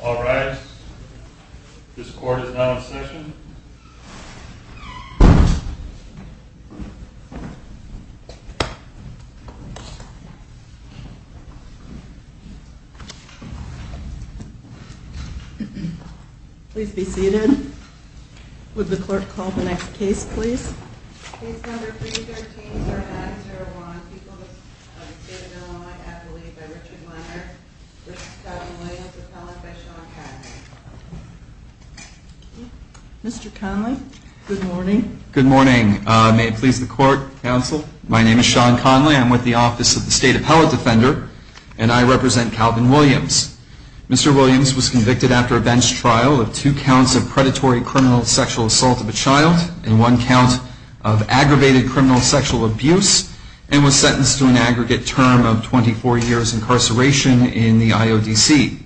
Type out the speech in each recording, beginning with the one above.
Alright, this court is now in session. Please be seated. Would the clerk call the next case, please? Case number 313, Zermatt v. Irvine, People of the State of Illinois, Appellee by Richard Leonard v. Calvin Williams, Appellate by Sean Conley. Mr. Conley, good morning. Good morning. May it please the court, counsel? My name is Sean Conley. I'm with the Office of the State Appellate Defender, and I represent Calvin Williams. Mr. Williams was convicted after a bench trial of two counts of predatory criminal sexual assault of a child and one count of aggravated criminal sexual abuse, and was sentenced to an aggregate term of 24 years incarceration in the IODC.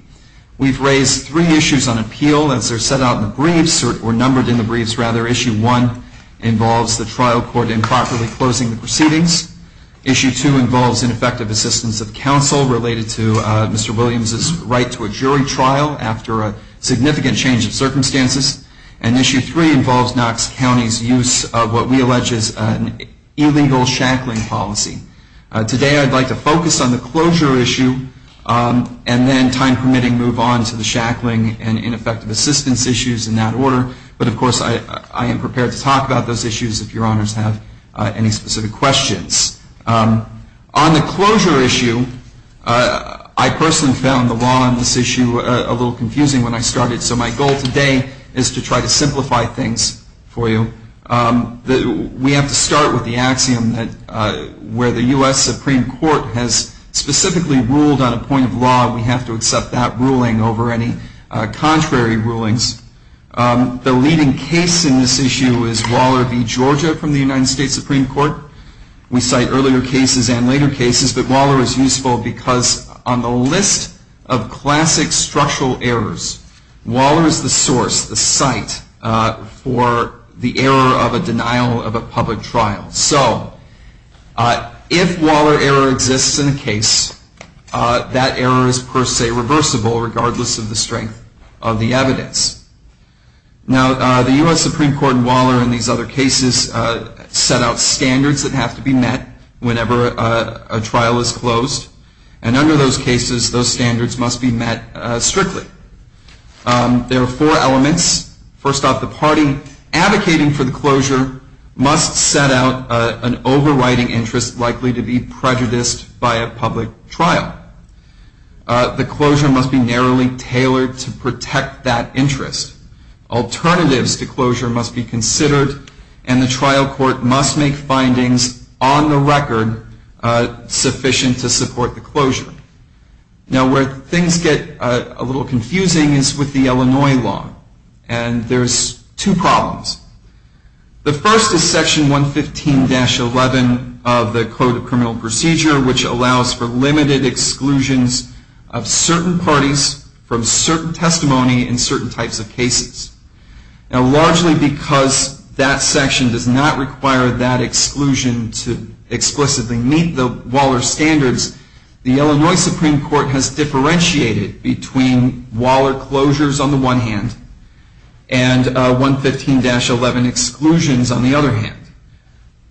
We've raised three issues on appeal as they're set out in the briefs, or numbered in the briefs, rather. Issue 1 involves the trial court improperly closing the proceedings. Issue 2 involves ineffective assistance of counsel related to Mr. Williams' right to a jury trial after a significant change of circumstances. And Issue 3 involves Knox County's use of what we allege is an illegal shackling policy. Today I'd like to focus on the closure issue and then, time permitting, move on to the shackling and ineffective assistance issues in that order. But, of course, I am prepared to talk about those issues if your honors have any specific questions. On the closure issue, I personally found the law on this issue a little confusing when I started, so my goal today is to try to simplify things for you. We have to start with the axiom that where the U.S. Supreme Court has specifically ruled on a point of law, we have to accept that ruling over any contrary rulings. The leading case in this issue is Waller v. Georgia from the United States Supreme Court. We cite earlier cases and later cases, but Waller is useful because on the list of classic structural errors, Waller is the source, the site, for the error of a denial of a public trial. So, if Waller error exists in a case, that error is per se reversible regardless of the strength of the evidence. Now, the U.S. Supreme Court in Waller and these other cases set out standards that have to be met whenever a trial is closed. And under those cases, those standards must be met strictly. There are four elements. First off, the party advocating for the closure must set out an overriding interest likely to be prejudiced by a public trial. The closure must be narrowly tailored to protect that interest. Alternatives to closure must be considered, and the trial court must make findings on the record sufficient to support the closure. Now, where things get a little confusing is with the Illinois law, and there's two problems. The first is Section 115-11 of the Code of Criminal Procedure, which allows for limited exclusions of certain parties from certain testimony in certain types of cases. Now, largely because that section does not require that exclusion to explicitly meet the Waller standards, the Illinois Supreme Court has differentiated between Waller closures on the one hand and 115-11 exclusions on the other hand.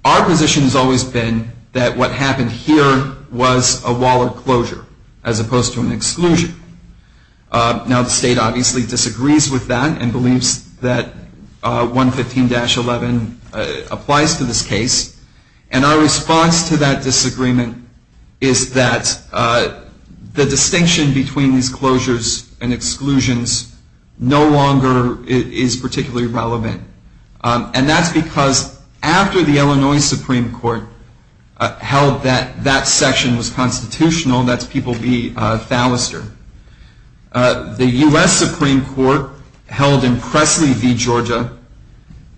Our position has always been that what happened here was a Waller closure as opposed to an exclusion. Now, the state obviously disagrees with that and believes that 115-11 applies to this case. And our response to that disagreement is that the distinction between these closures and exclusions no longer is particularly relevant. And that's because after the Illinois Supreme Court held that that section was constitutional, that's people be thalasser. The U.S. Supreme Court held in Presley v. Georgia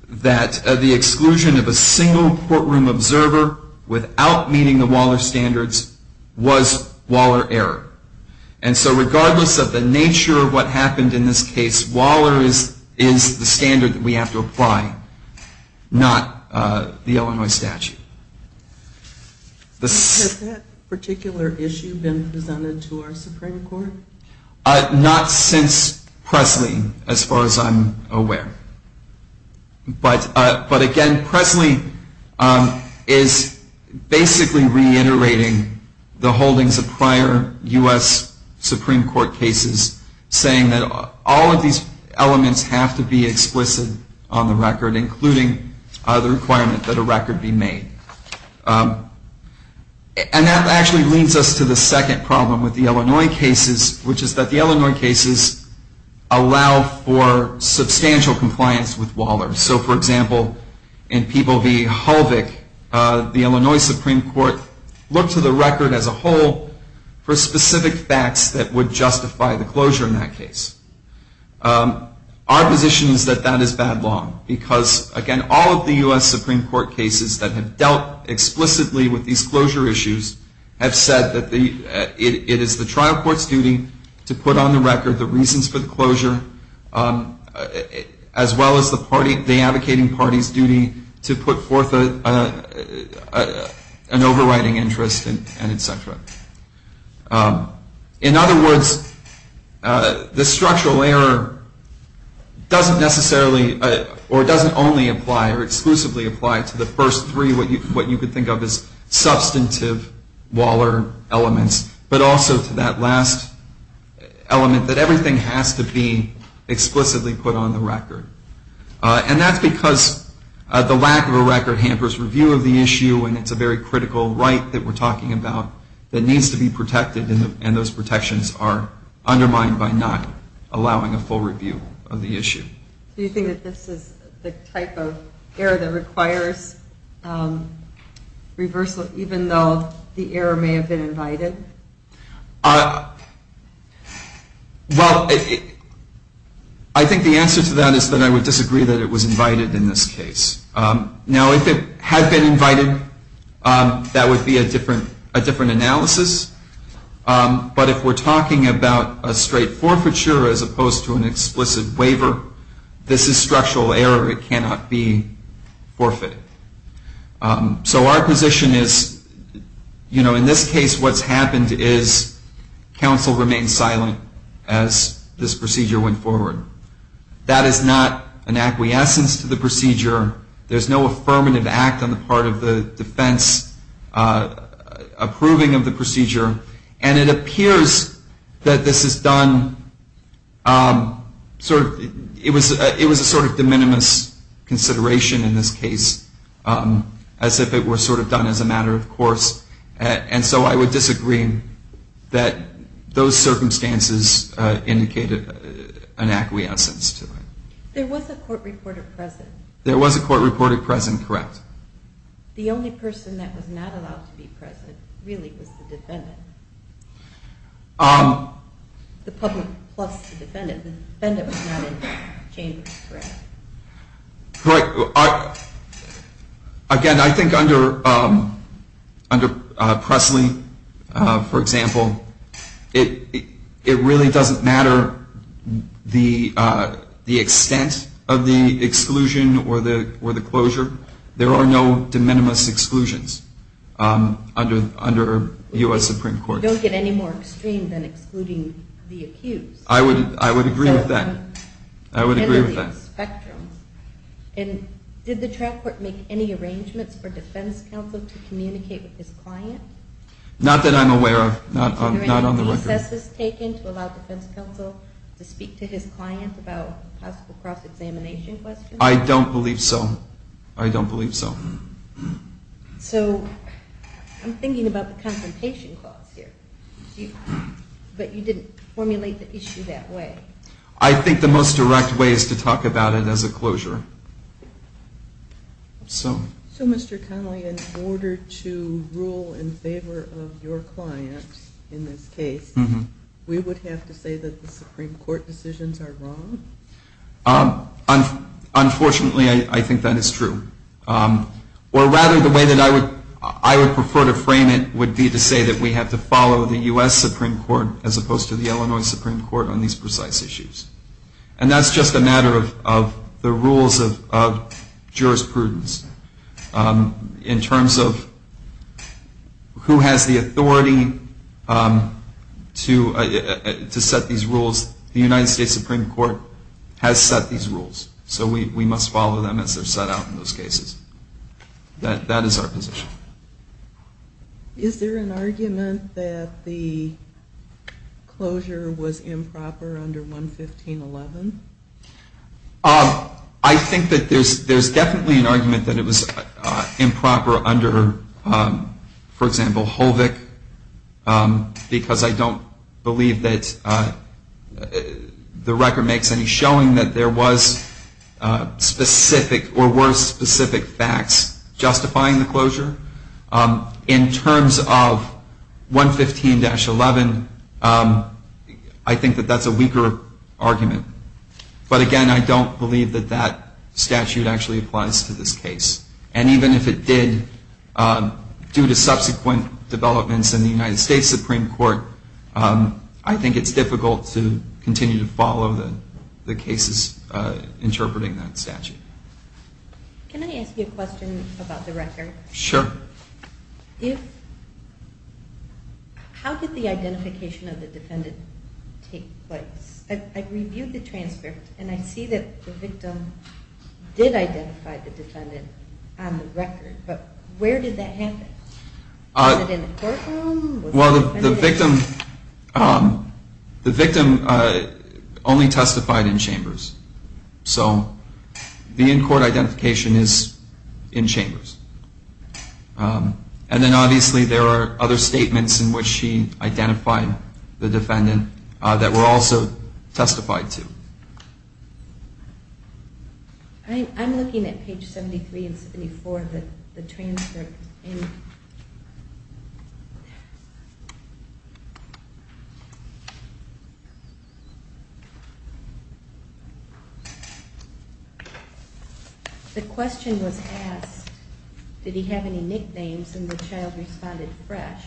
that the exclusion of a single courtroom observer without meeting the Waller standards was Waller error. And so regardless of the nature of what happened in this case, Waller is the standard that we have to apply, not the Illinois statute. Has that particular issue been presented to our Supreme Court? Not since Presley, as far as I'm aware. But again, Presley is basically reiterating the holdings of prior U.S. Supreme Court cases, saying that all of these elements have to be explicit on the record, including the requirement that a record be made. And that actually leads us to the second problem with the Illinois cases, which is that the Illinois cases allow for substantial compliance with Waller. So, for example, in People v. Hulvick, the Illinois Supreme Court looked to the record as a whole for specific facts that would justify the closure in that case. Our position is that that is bad law, because again, all of the U.S. Supreme Court cases that have dealt explicitly with these closure issues have said that it is the trial court's duty to put on the record the reasons for the closure, as well as the advocating party's duty to put forth an overriding interest, and et cetera. In other words, the structural error doesn't necessarily, or doesn't only apply, or exclusively apply to the first three, what you could think of as substantive Waller elements, but also to that last element, that everything has to be explicitly put on the record. And that's because the lack of a record hampers review of the issue, and it's a very critical right that we're talking about that needs to be protected, and those protections are undermined by not allowing a full review of the issue. Do you think that this is the type of error that requires reversal, even though the error may have been invited? Well, I think the answer to that is that I would disagree that it was invited in this case. Now, if it had been invited, that would be a different analysis, but if we're talking about a straight forfeiture as opposed to an explicit waiver, this is structural error. It cannot be forfeited. So our position is, you know, in this case what's happened is counsel remained silent as this procedure went forward. That is not an acquiescence to the procedure. There's no affirmative act on the part of the defense approving of the procedure, and it appears that this is done, sort of, it was a sort of de minimis consideration in this case, as if it were sort of done as a matter of course, and so I would disagree that those circumstances indicated an acquiescence to it. There was a court reporter present. There was a court reporter present, correct. The only person that was not allowed to be present really was the defendant. The public plus the defendant. The defendant was not in the chamber, correct? Correct. Again, I think under Presley, for example, it really doesn't matter the extent of the exclusion or the closure. There are no de minimis exclusions under U.S. Supreme Court. Don't get any more extreme than excluding the accused. I would agree with that. I would agree with that. And did the trial court make any arrangements for defense counsel to communicate with his client? Not that I'm aware of. Not on the record. Any assesses taken to allow defense counsel to speak to his client about possible cross-examination questions? I don't believe so. I don't believe so. So I'm thinking about the confrontation clause here, but you didn't formulate the issue that way. I think the most direct way is to talk about it as a closure. So Mr. Connolly, in order to rule in favor of your client in this case, we would have to say that the Supreme Court decisions are wrong? Unfortunately, I think that is true. Or rather, the way that I would prefer to frame it would be to say that we have to follow the U.S. Supreme Court as opposed to the Illinois Supreme Court on these precise issues. And that's just a matter of the rules of jurisprudence in terms of who has the authority to set these rules. The United States Supreme Court has set these rules, so we must follow them as they're set out in those cases. That is our position. Is there an argument that the closure was improper under 115.11? I think that there's definitely an argument that it was improper under, for example, HOLVIC, because I don't believe that the record makes any showing that there was specific or were specific facts justifying the closure. In terms of 115.11, I think that that's a weaker argument. But again, I don't believe that that statute actually applies to this case. And even if it did, due to subsequent developments in the United States Supreme Court, I think it's difficult to continue to follow the cases interpreting that statute. Can I ask you a question about the record? Sure. How did the identification of the defendant take place? I reviewed the transcript, and I see that the victim did identify the defendant on the record, but where did that happen? Was it in the courtroom? Well, the victim only testified in chambers. So the in-court identification is in chambers. And then obviously there are other statements in which she identified the defendant that were also testified to. I'm looking at page 73 and 74 of the transcript. The question was asked, did he have any nicknames, and the child responded, fresh.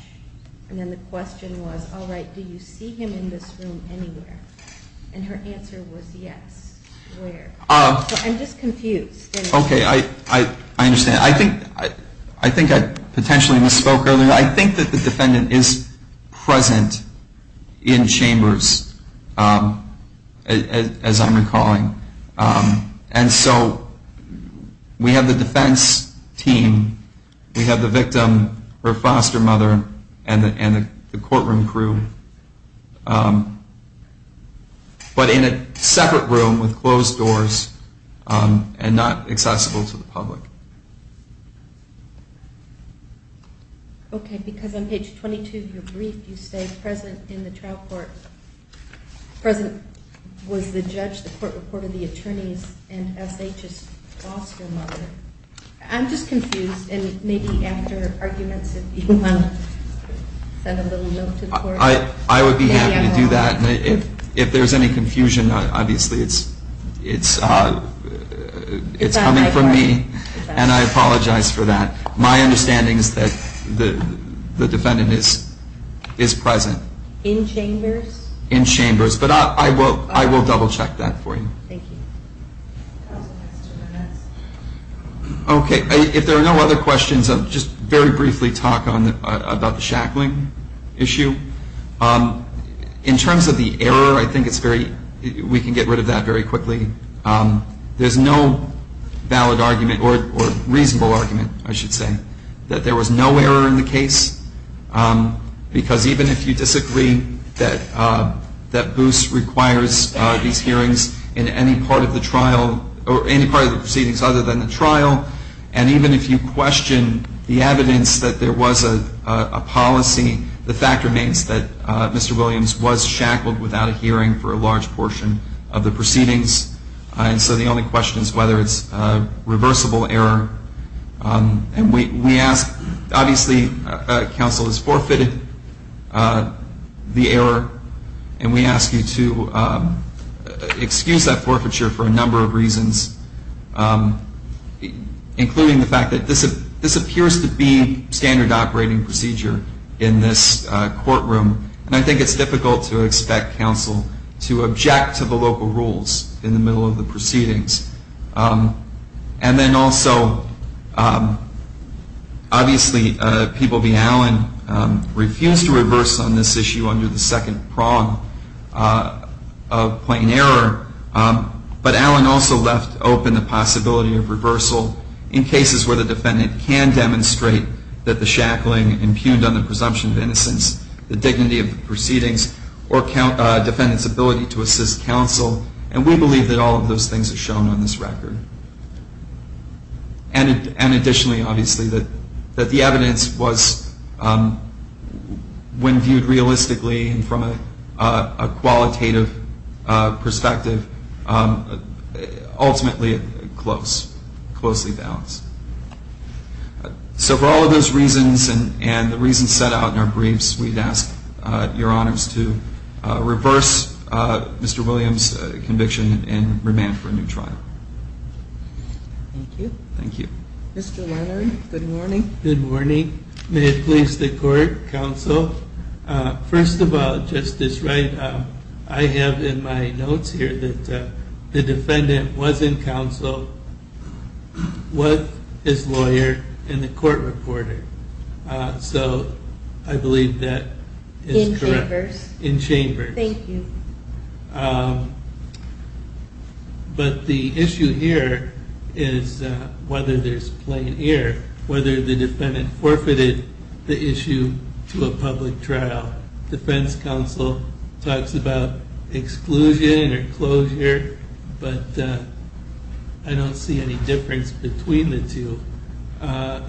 And then the question was, all right, do you see him in this room anywhere? And her answer was yes. So I'm just confused. Okay, I understand. I think I potentially misspoke earlier. I think that the defendant is present in chambers, as I'm recalling. And so we have the defense team, we have the victim, her foster mother, and the courtroom crew, but in a separate room with closed doors and not accessible to the public. Okay, because on page 22 of your brief you say present in the trial court, present was the judge, the court reported the attorneys, and SHS foster mother. I'm just confused, and maybe after arguments if you want to send a little note to the court. I would be happy to do that. If there's any confusion, obviously it's coming from me, and I apologize for that. My understanding is that the defendant is present. In chambers? In chambers, but I will double-check that for you. Thank you. Okay, if there are no other questions, I'll just very briefly talk about the shackling issue. In terms of the error, I think we can get rid of that very quickly. There's no valid argument, or reasonable argument, I should say, that there was no error in the case, because even if you disagree that Boos requires these hearings in any part of the trial, or any part of the proceedings other than the trial, and even if you question the evidence that there was a policy, the fact remains that Mr. Williams was shackled without a hearing for a large portion of the proceedings, and so the only question is whether it's a reversible error. And we ask, obviously counsel has forfeited the error, and we ask you to excuse that forfeiture for a number of reasons, including the fact that this appears to be standard operating procedure in this courtroom, and I think it's difficult to expect counsel to object to the local rules in the middle of the proceedings. And then also, obviously, people being Allen refused to reverse on this issue under the second prong of plain error, but Allen also left open the possibility of reversal in cases where the defendant can demonstrate that the shackling impugned on the presumption of innocence, the dignity of the proceedings, or defendant's ability to assist counsel, and we believe that all of those things are shown on this record. And additionally, obviously, that the evidence was, when viewed realistically and from a qualitative perspective, ultimately close, closely balanced. So for all of those reasons, and the reasons set out in our briefs, we'd ask your honors to reverse Mr. Williams' conviction and remand for a new trial. Thank you. Thank you. Mr. Leonard, good morning. Good morning. May it please the court, counsel. First of all, Justice Wright, I have in my notes here that the defendant was in counsel with his lawyer and the court reporter. So I believe that is correct. In chambers. In chambers. Thank you. But the issue here is whether there's plain error, whether the defendant forfeited the issue to a public trial. Defense counsel talks about exclusion or closure, but I don't see any difference between the two.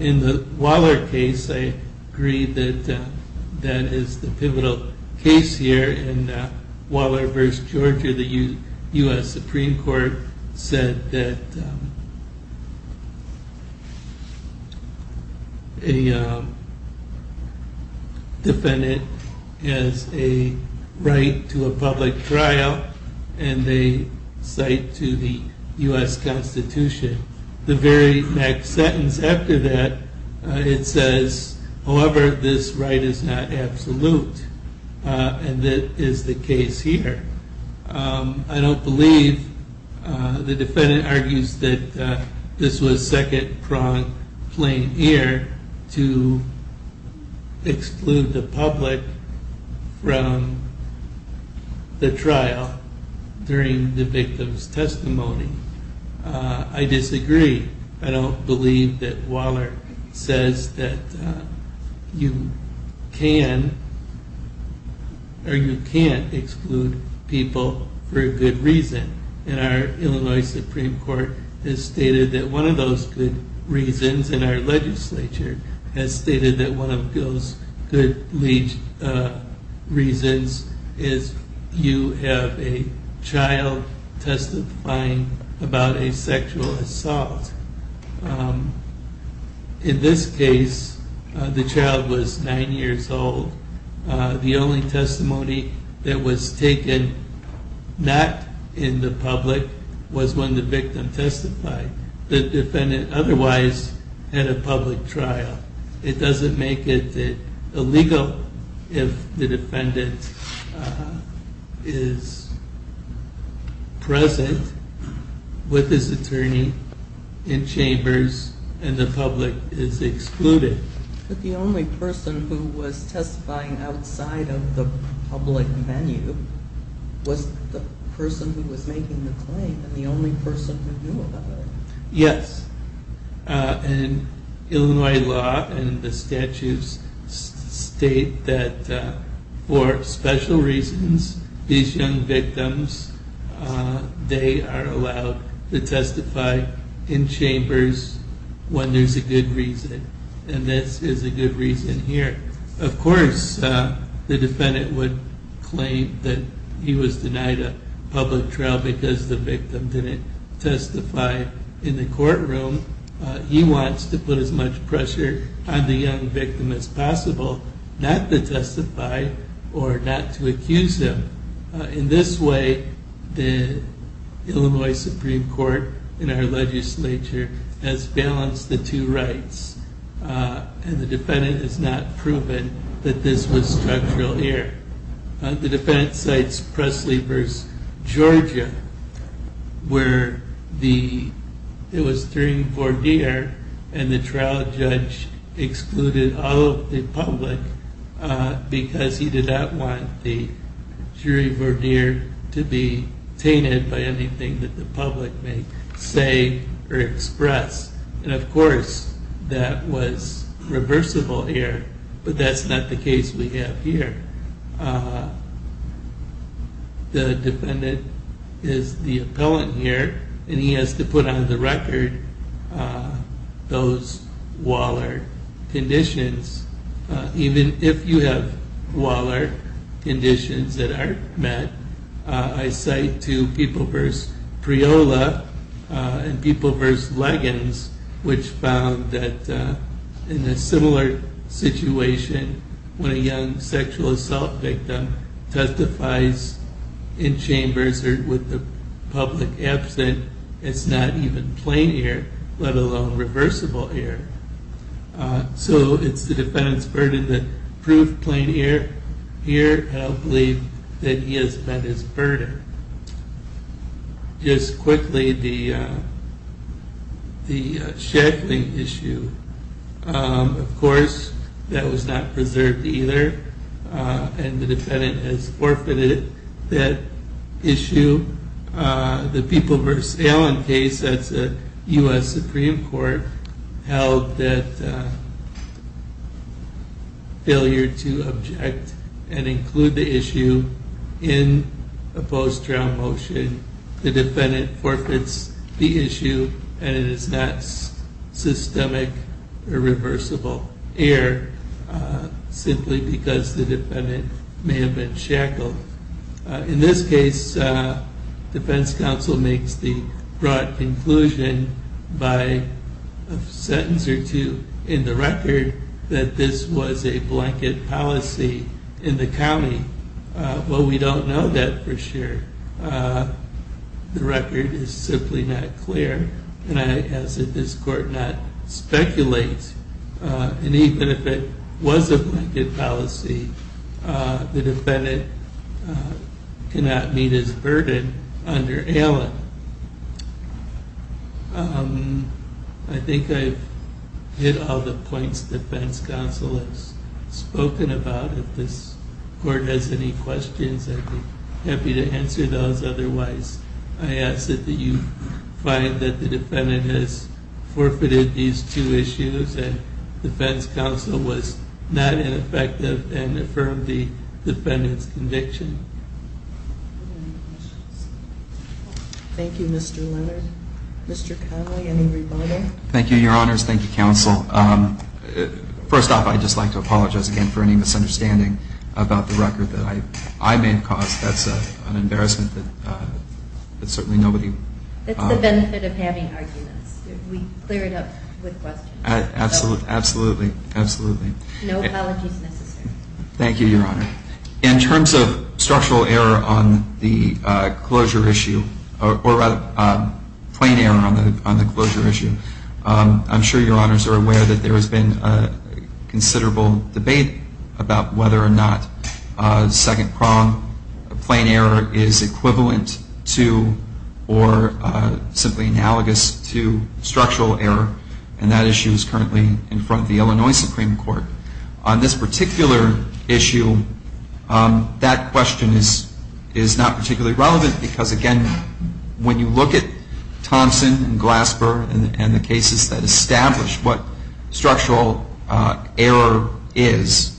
In the Waller case, I agree that that is the pivotal case here. In Waller v. Georgia, the U.S. Supreme Court said that a defendant has a right to a public trial, and they cite to the U.S. Constitution. The very next sentence after that, it says, however, this right is not absolute, and that is the case here. I don't believe the defendant argues that this was second-pronged plain error to exclude the public from the trial during the victim's testimony. I disagree. I don't believe that Waller says that you can or you can't exclude people for a good reason. And our Illinois Supreme Court has stated that one of those good reasons, about a sexual assault. In this case, the child was nine years old. The only testimony that was taken not in the public was when the victim testified. The defendant otherwise had a public trial. It doesn't make it illegal if the defendant is present with his attorney in chambers and the public is excluded. But the only person who was testifying outside of the public venue was the person who was making the claim, and the only person who knew about it. Yes. And Illinois law and the statutes state that for special reasons, these young victims, they are allowed to testify in chambers when there's a good reason. And this is a good reason here. Of course, the defendant would claim that he was denied a public trial because the victim didn't testify in the courtroom. He wants to put as much pressure on the young victim as possible not to testify or not to accuse him. In this way, the Illinois Supreme Court and our legislature has balanced the two rights. And the defendant has not proven that this was structural here. The defendant cites Presley v. Georgia, where it was during Vordeer and the trial judge excluded all of the public because he did not want the jury Vordeer to be tainted by anything that the public may say or express. And of course, that was reversible here, but that's not the case we have here. The defendant is the appellant here, and he has to put on the record those Waller conditions. Even if you have Waller conditions that aren't met, I cite to People v. Priola and People v. Leggins, which found that in a similar situation, when a young sexual assault victim testifies in chambers or with the public absent, it's not even plain error, let alone reversible error. So it's the defendant's burden that proved plain error here, and I believe that he has met his burden. Just quickly, the shackling issue, of course, that was not preserved either, and the defendant has forfeited that issue. The People v. Allen case at the U.S. Supreme Court held that failure to object and include the issue in a post-trial motion, the defendant forfeits the issue, and it is not systemic or reversible error, simply because the defendant may have been shackled. In this case, defense counsel makes the broad conclusion by a sentence or two in the record that this was a blanket policy in the county. Well, we don't know that for sure. The record is simply not clear, and I ask that this court not speculate, and even if it was a blanket policy, the defendant cannot meet his burden under Allen. I think I've hit all the points defense counsel has spoken about. If this court has any questions, I'd be happy to answer those. Otherwise, I ask that you find that the defendant has forfeited these two issues and defense counsel was not ineffective and affirmed the defendant's conviction. Thank you, Mr. Leonard. Mr. Connolly, any rebuttal? Thank you, Your Honors. Thank you, counsel. First off, I'd just like to apologize again for any misunderstanding about the record that I may have caused. That's an embarrassment that certainly nobody… It's the benefit of having arguments. We clear it up with questions. Absolutely, absolutely. No apologies necessary. Thank you, Your Honor. In terms of structural error on the closure issue, or rather, plain error on the closure issue, I'm sure Your Honors are aware that there has been considerable debate about whether or not second-prong plain error is equivalent to or simply analogous to structural error, and that issue is currently in front of the Illinois Supreme Court. On this particular issue, that question is not particularly relevant because, again, when you look at Thompson and Glasper and the cases that establish what structural error is,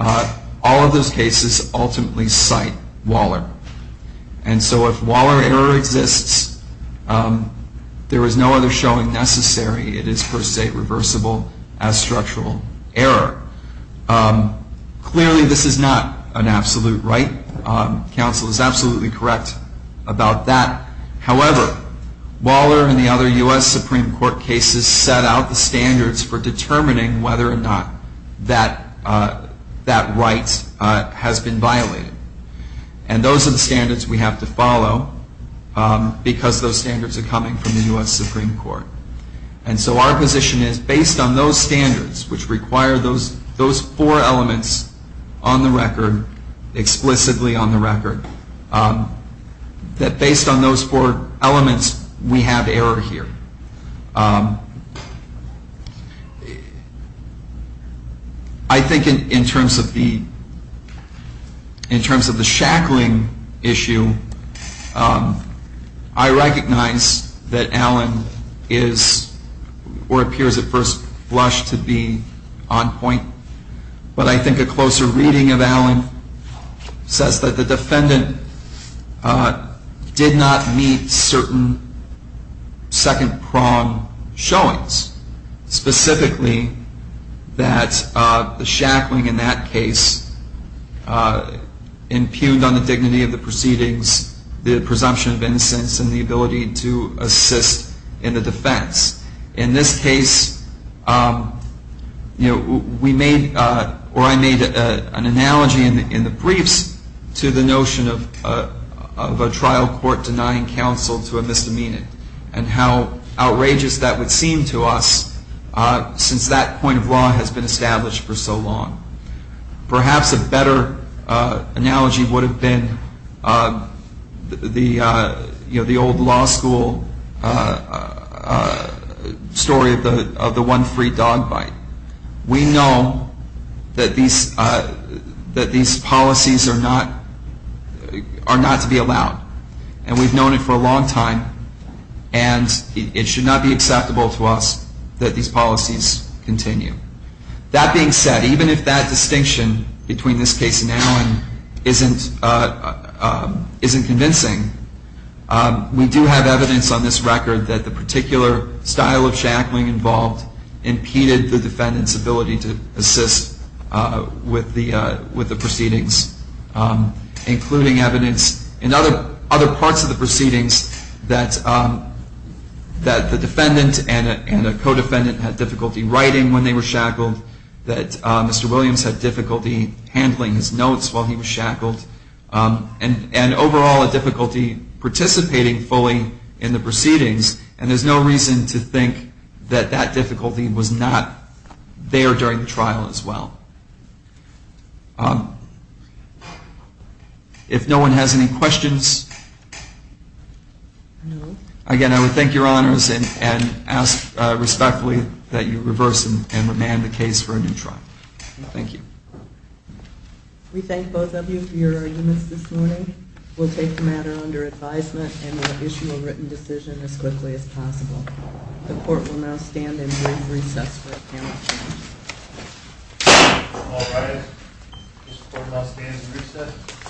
all of those cases ultimately cite Waller. And so if Waller error exists, there is no other showing necessary. It is per se reversible as structural error. Clearly, this is not an absolute right. Counsel is absolutely correct about that. However, Waller and the other U.S. Supreme Court cases set out the standards for determining whether or not that right has been violated. And those are the standards we have to follow because those standards are coming from the U.S. Supreme Court. And so our position is, based on those standards, which require those four elements on the record, explicitly on the record, that based on those four elements, we have error here. I think in terms of the shackling issue, I recognize that Allen is or appears at first blush to be on point, but I think a closer reading of Allen says that the defendant did not meet certain second-prong standards. He did not meet certain second-prong showings, specifically that the shackling in that case impugned on the dignity of the proceedings, the presumption of innocence, and the ability to assist in the defense. In this case, we made or I made an analogy in the briefs to the notion of a trial court denying counsel to a misdemeanor and how outrageous that would seem to us since that point of law has been established for so long. Perhaps a better analogy would have been the old law school story of the one free dog bite. We know that these policies are not to be allowed, and we've known it for a long time, and it should not be acceptable to us that these policies continue. That being said, even if that distinction between this case and Allen isn't convincing, we do have evidence on this record that the particular style of shackling involved impeded the defendant's ability to assist with the proceedings, including evidence in other parts of the proceedings that the defendant and the co-defendant had difficulty writing when they were shackled, that Mr. Williams had difficulty handling his notes while he was shackled, and overall a difficulty participating fully in the proceedings, and there's no reason to think that that difficulty was not there during the trial as well. If no one has any questions, again, I would thank your honors and ask respectfully that you reverse and remand the case for a new trial. Thank you. We thank both of you for your arguments this morning. We'll take the matter under advisement and we'll issue a written decision as quickly as possible. The court will now stand and bring recess for the panel. All rise. This court will now stand and recess.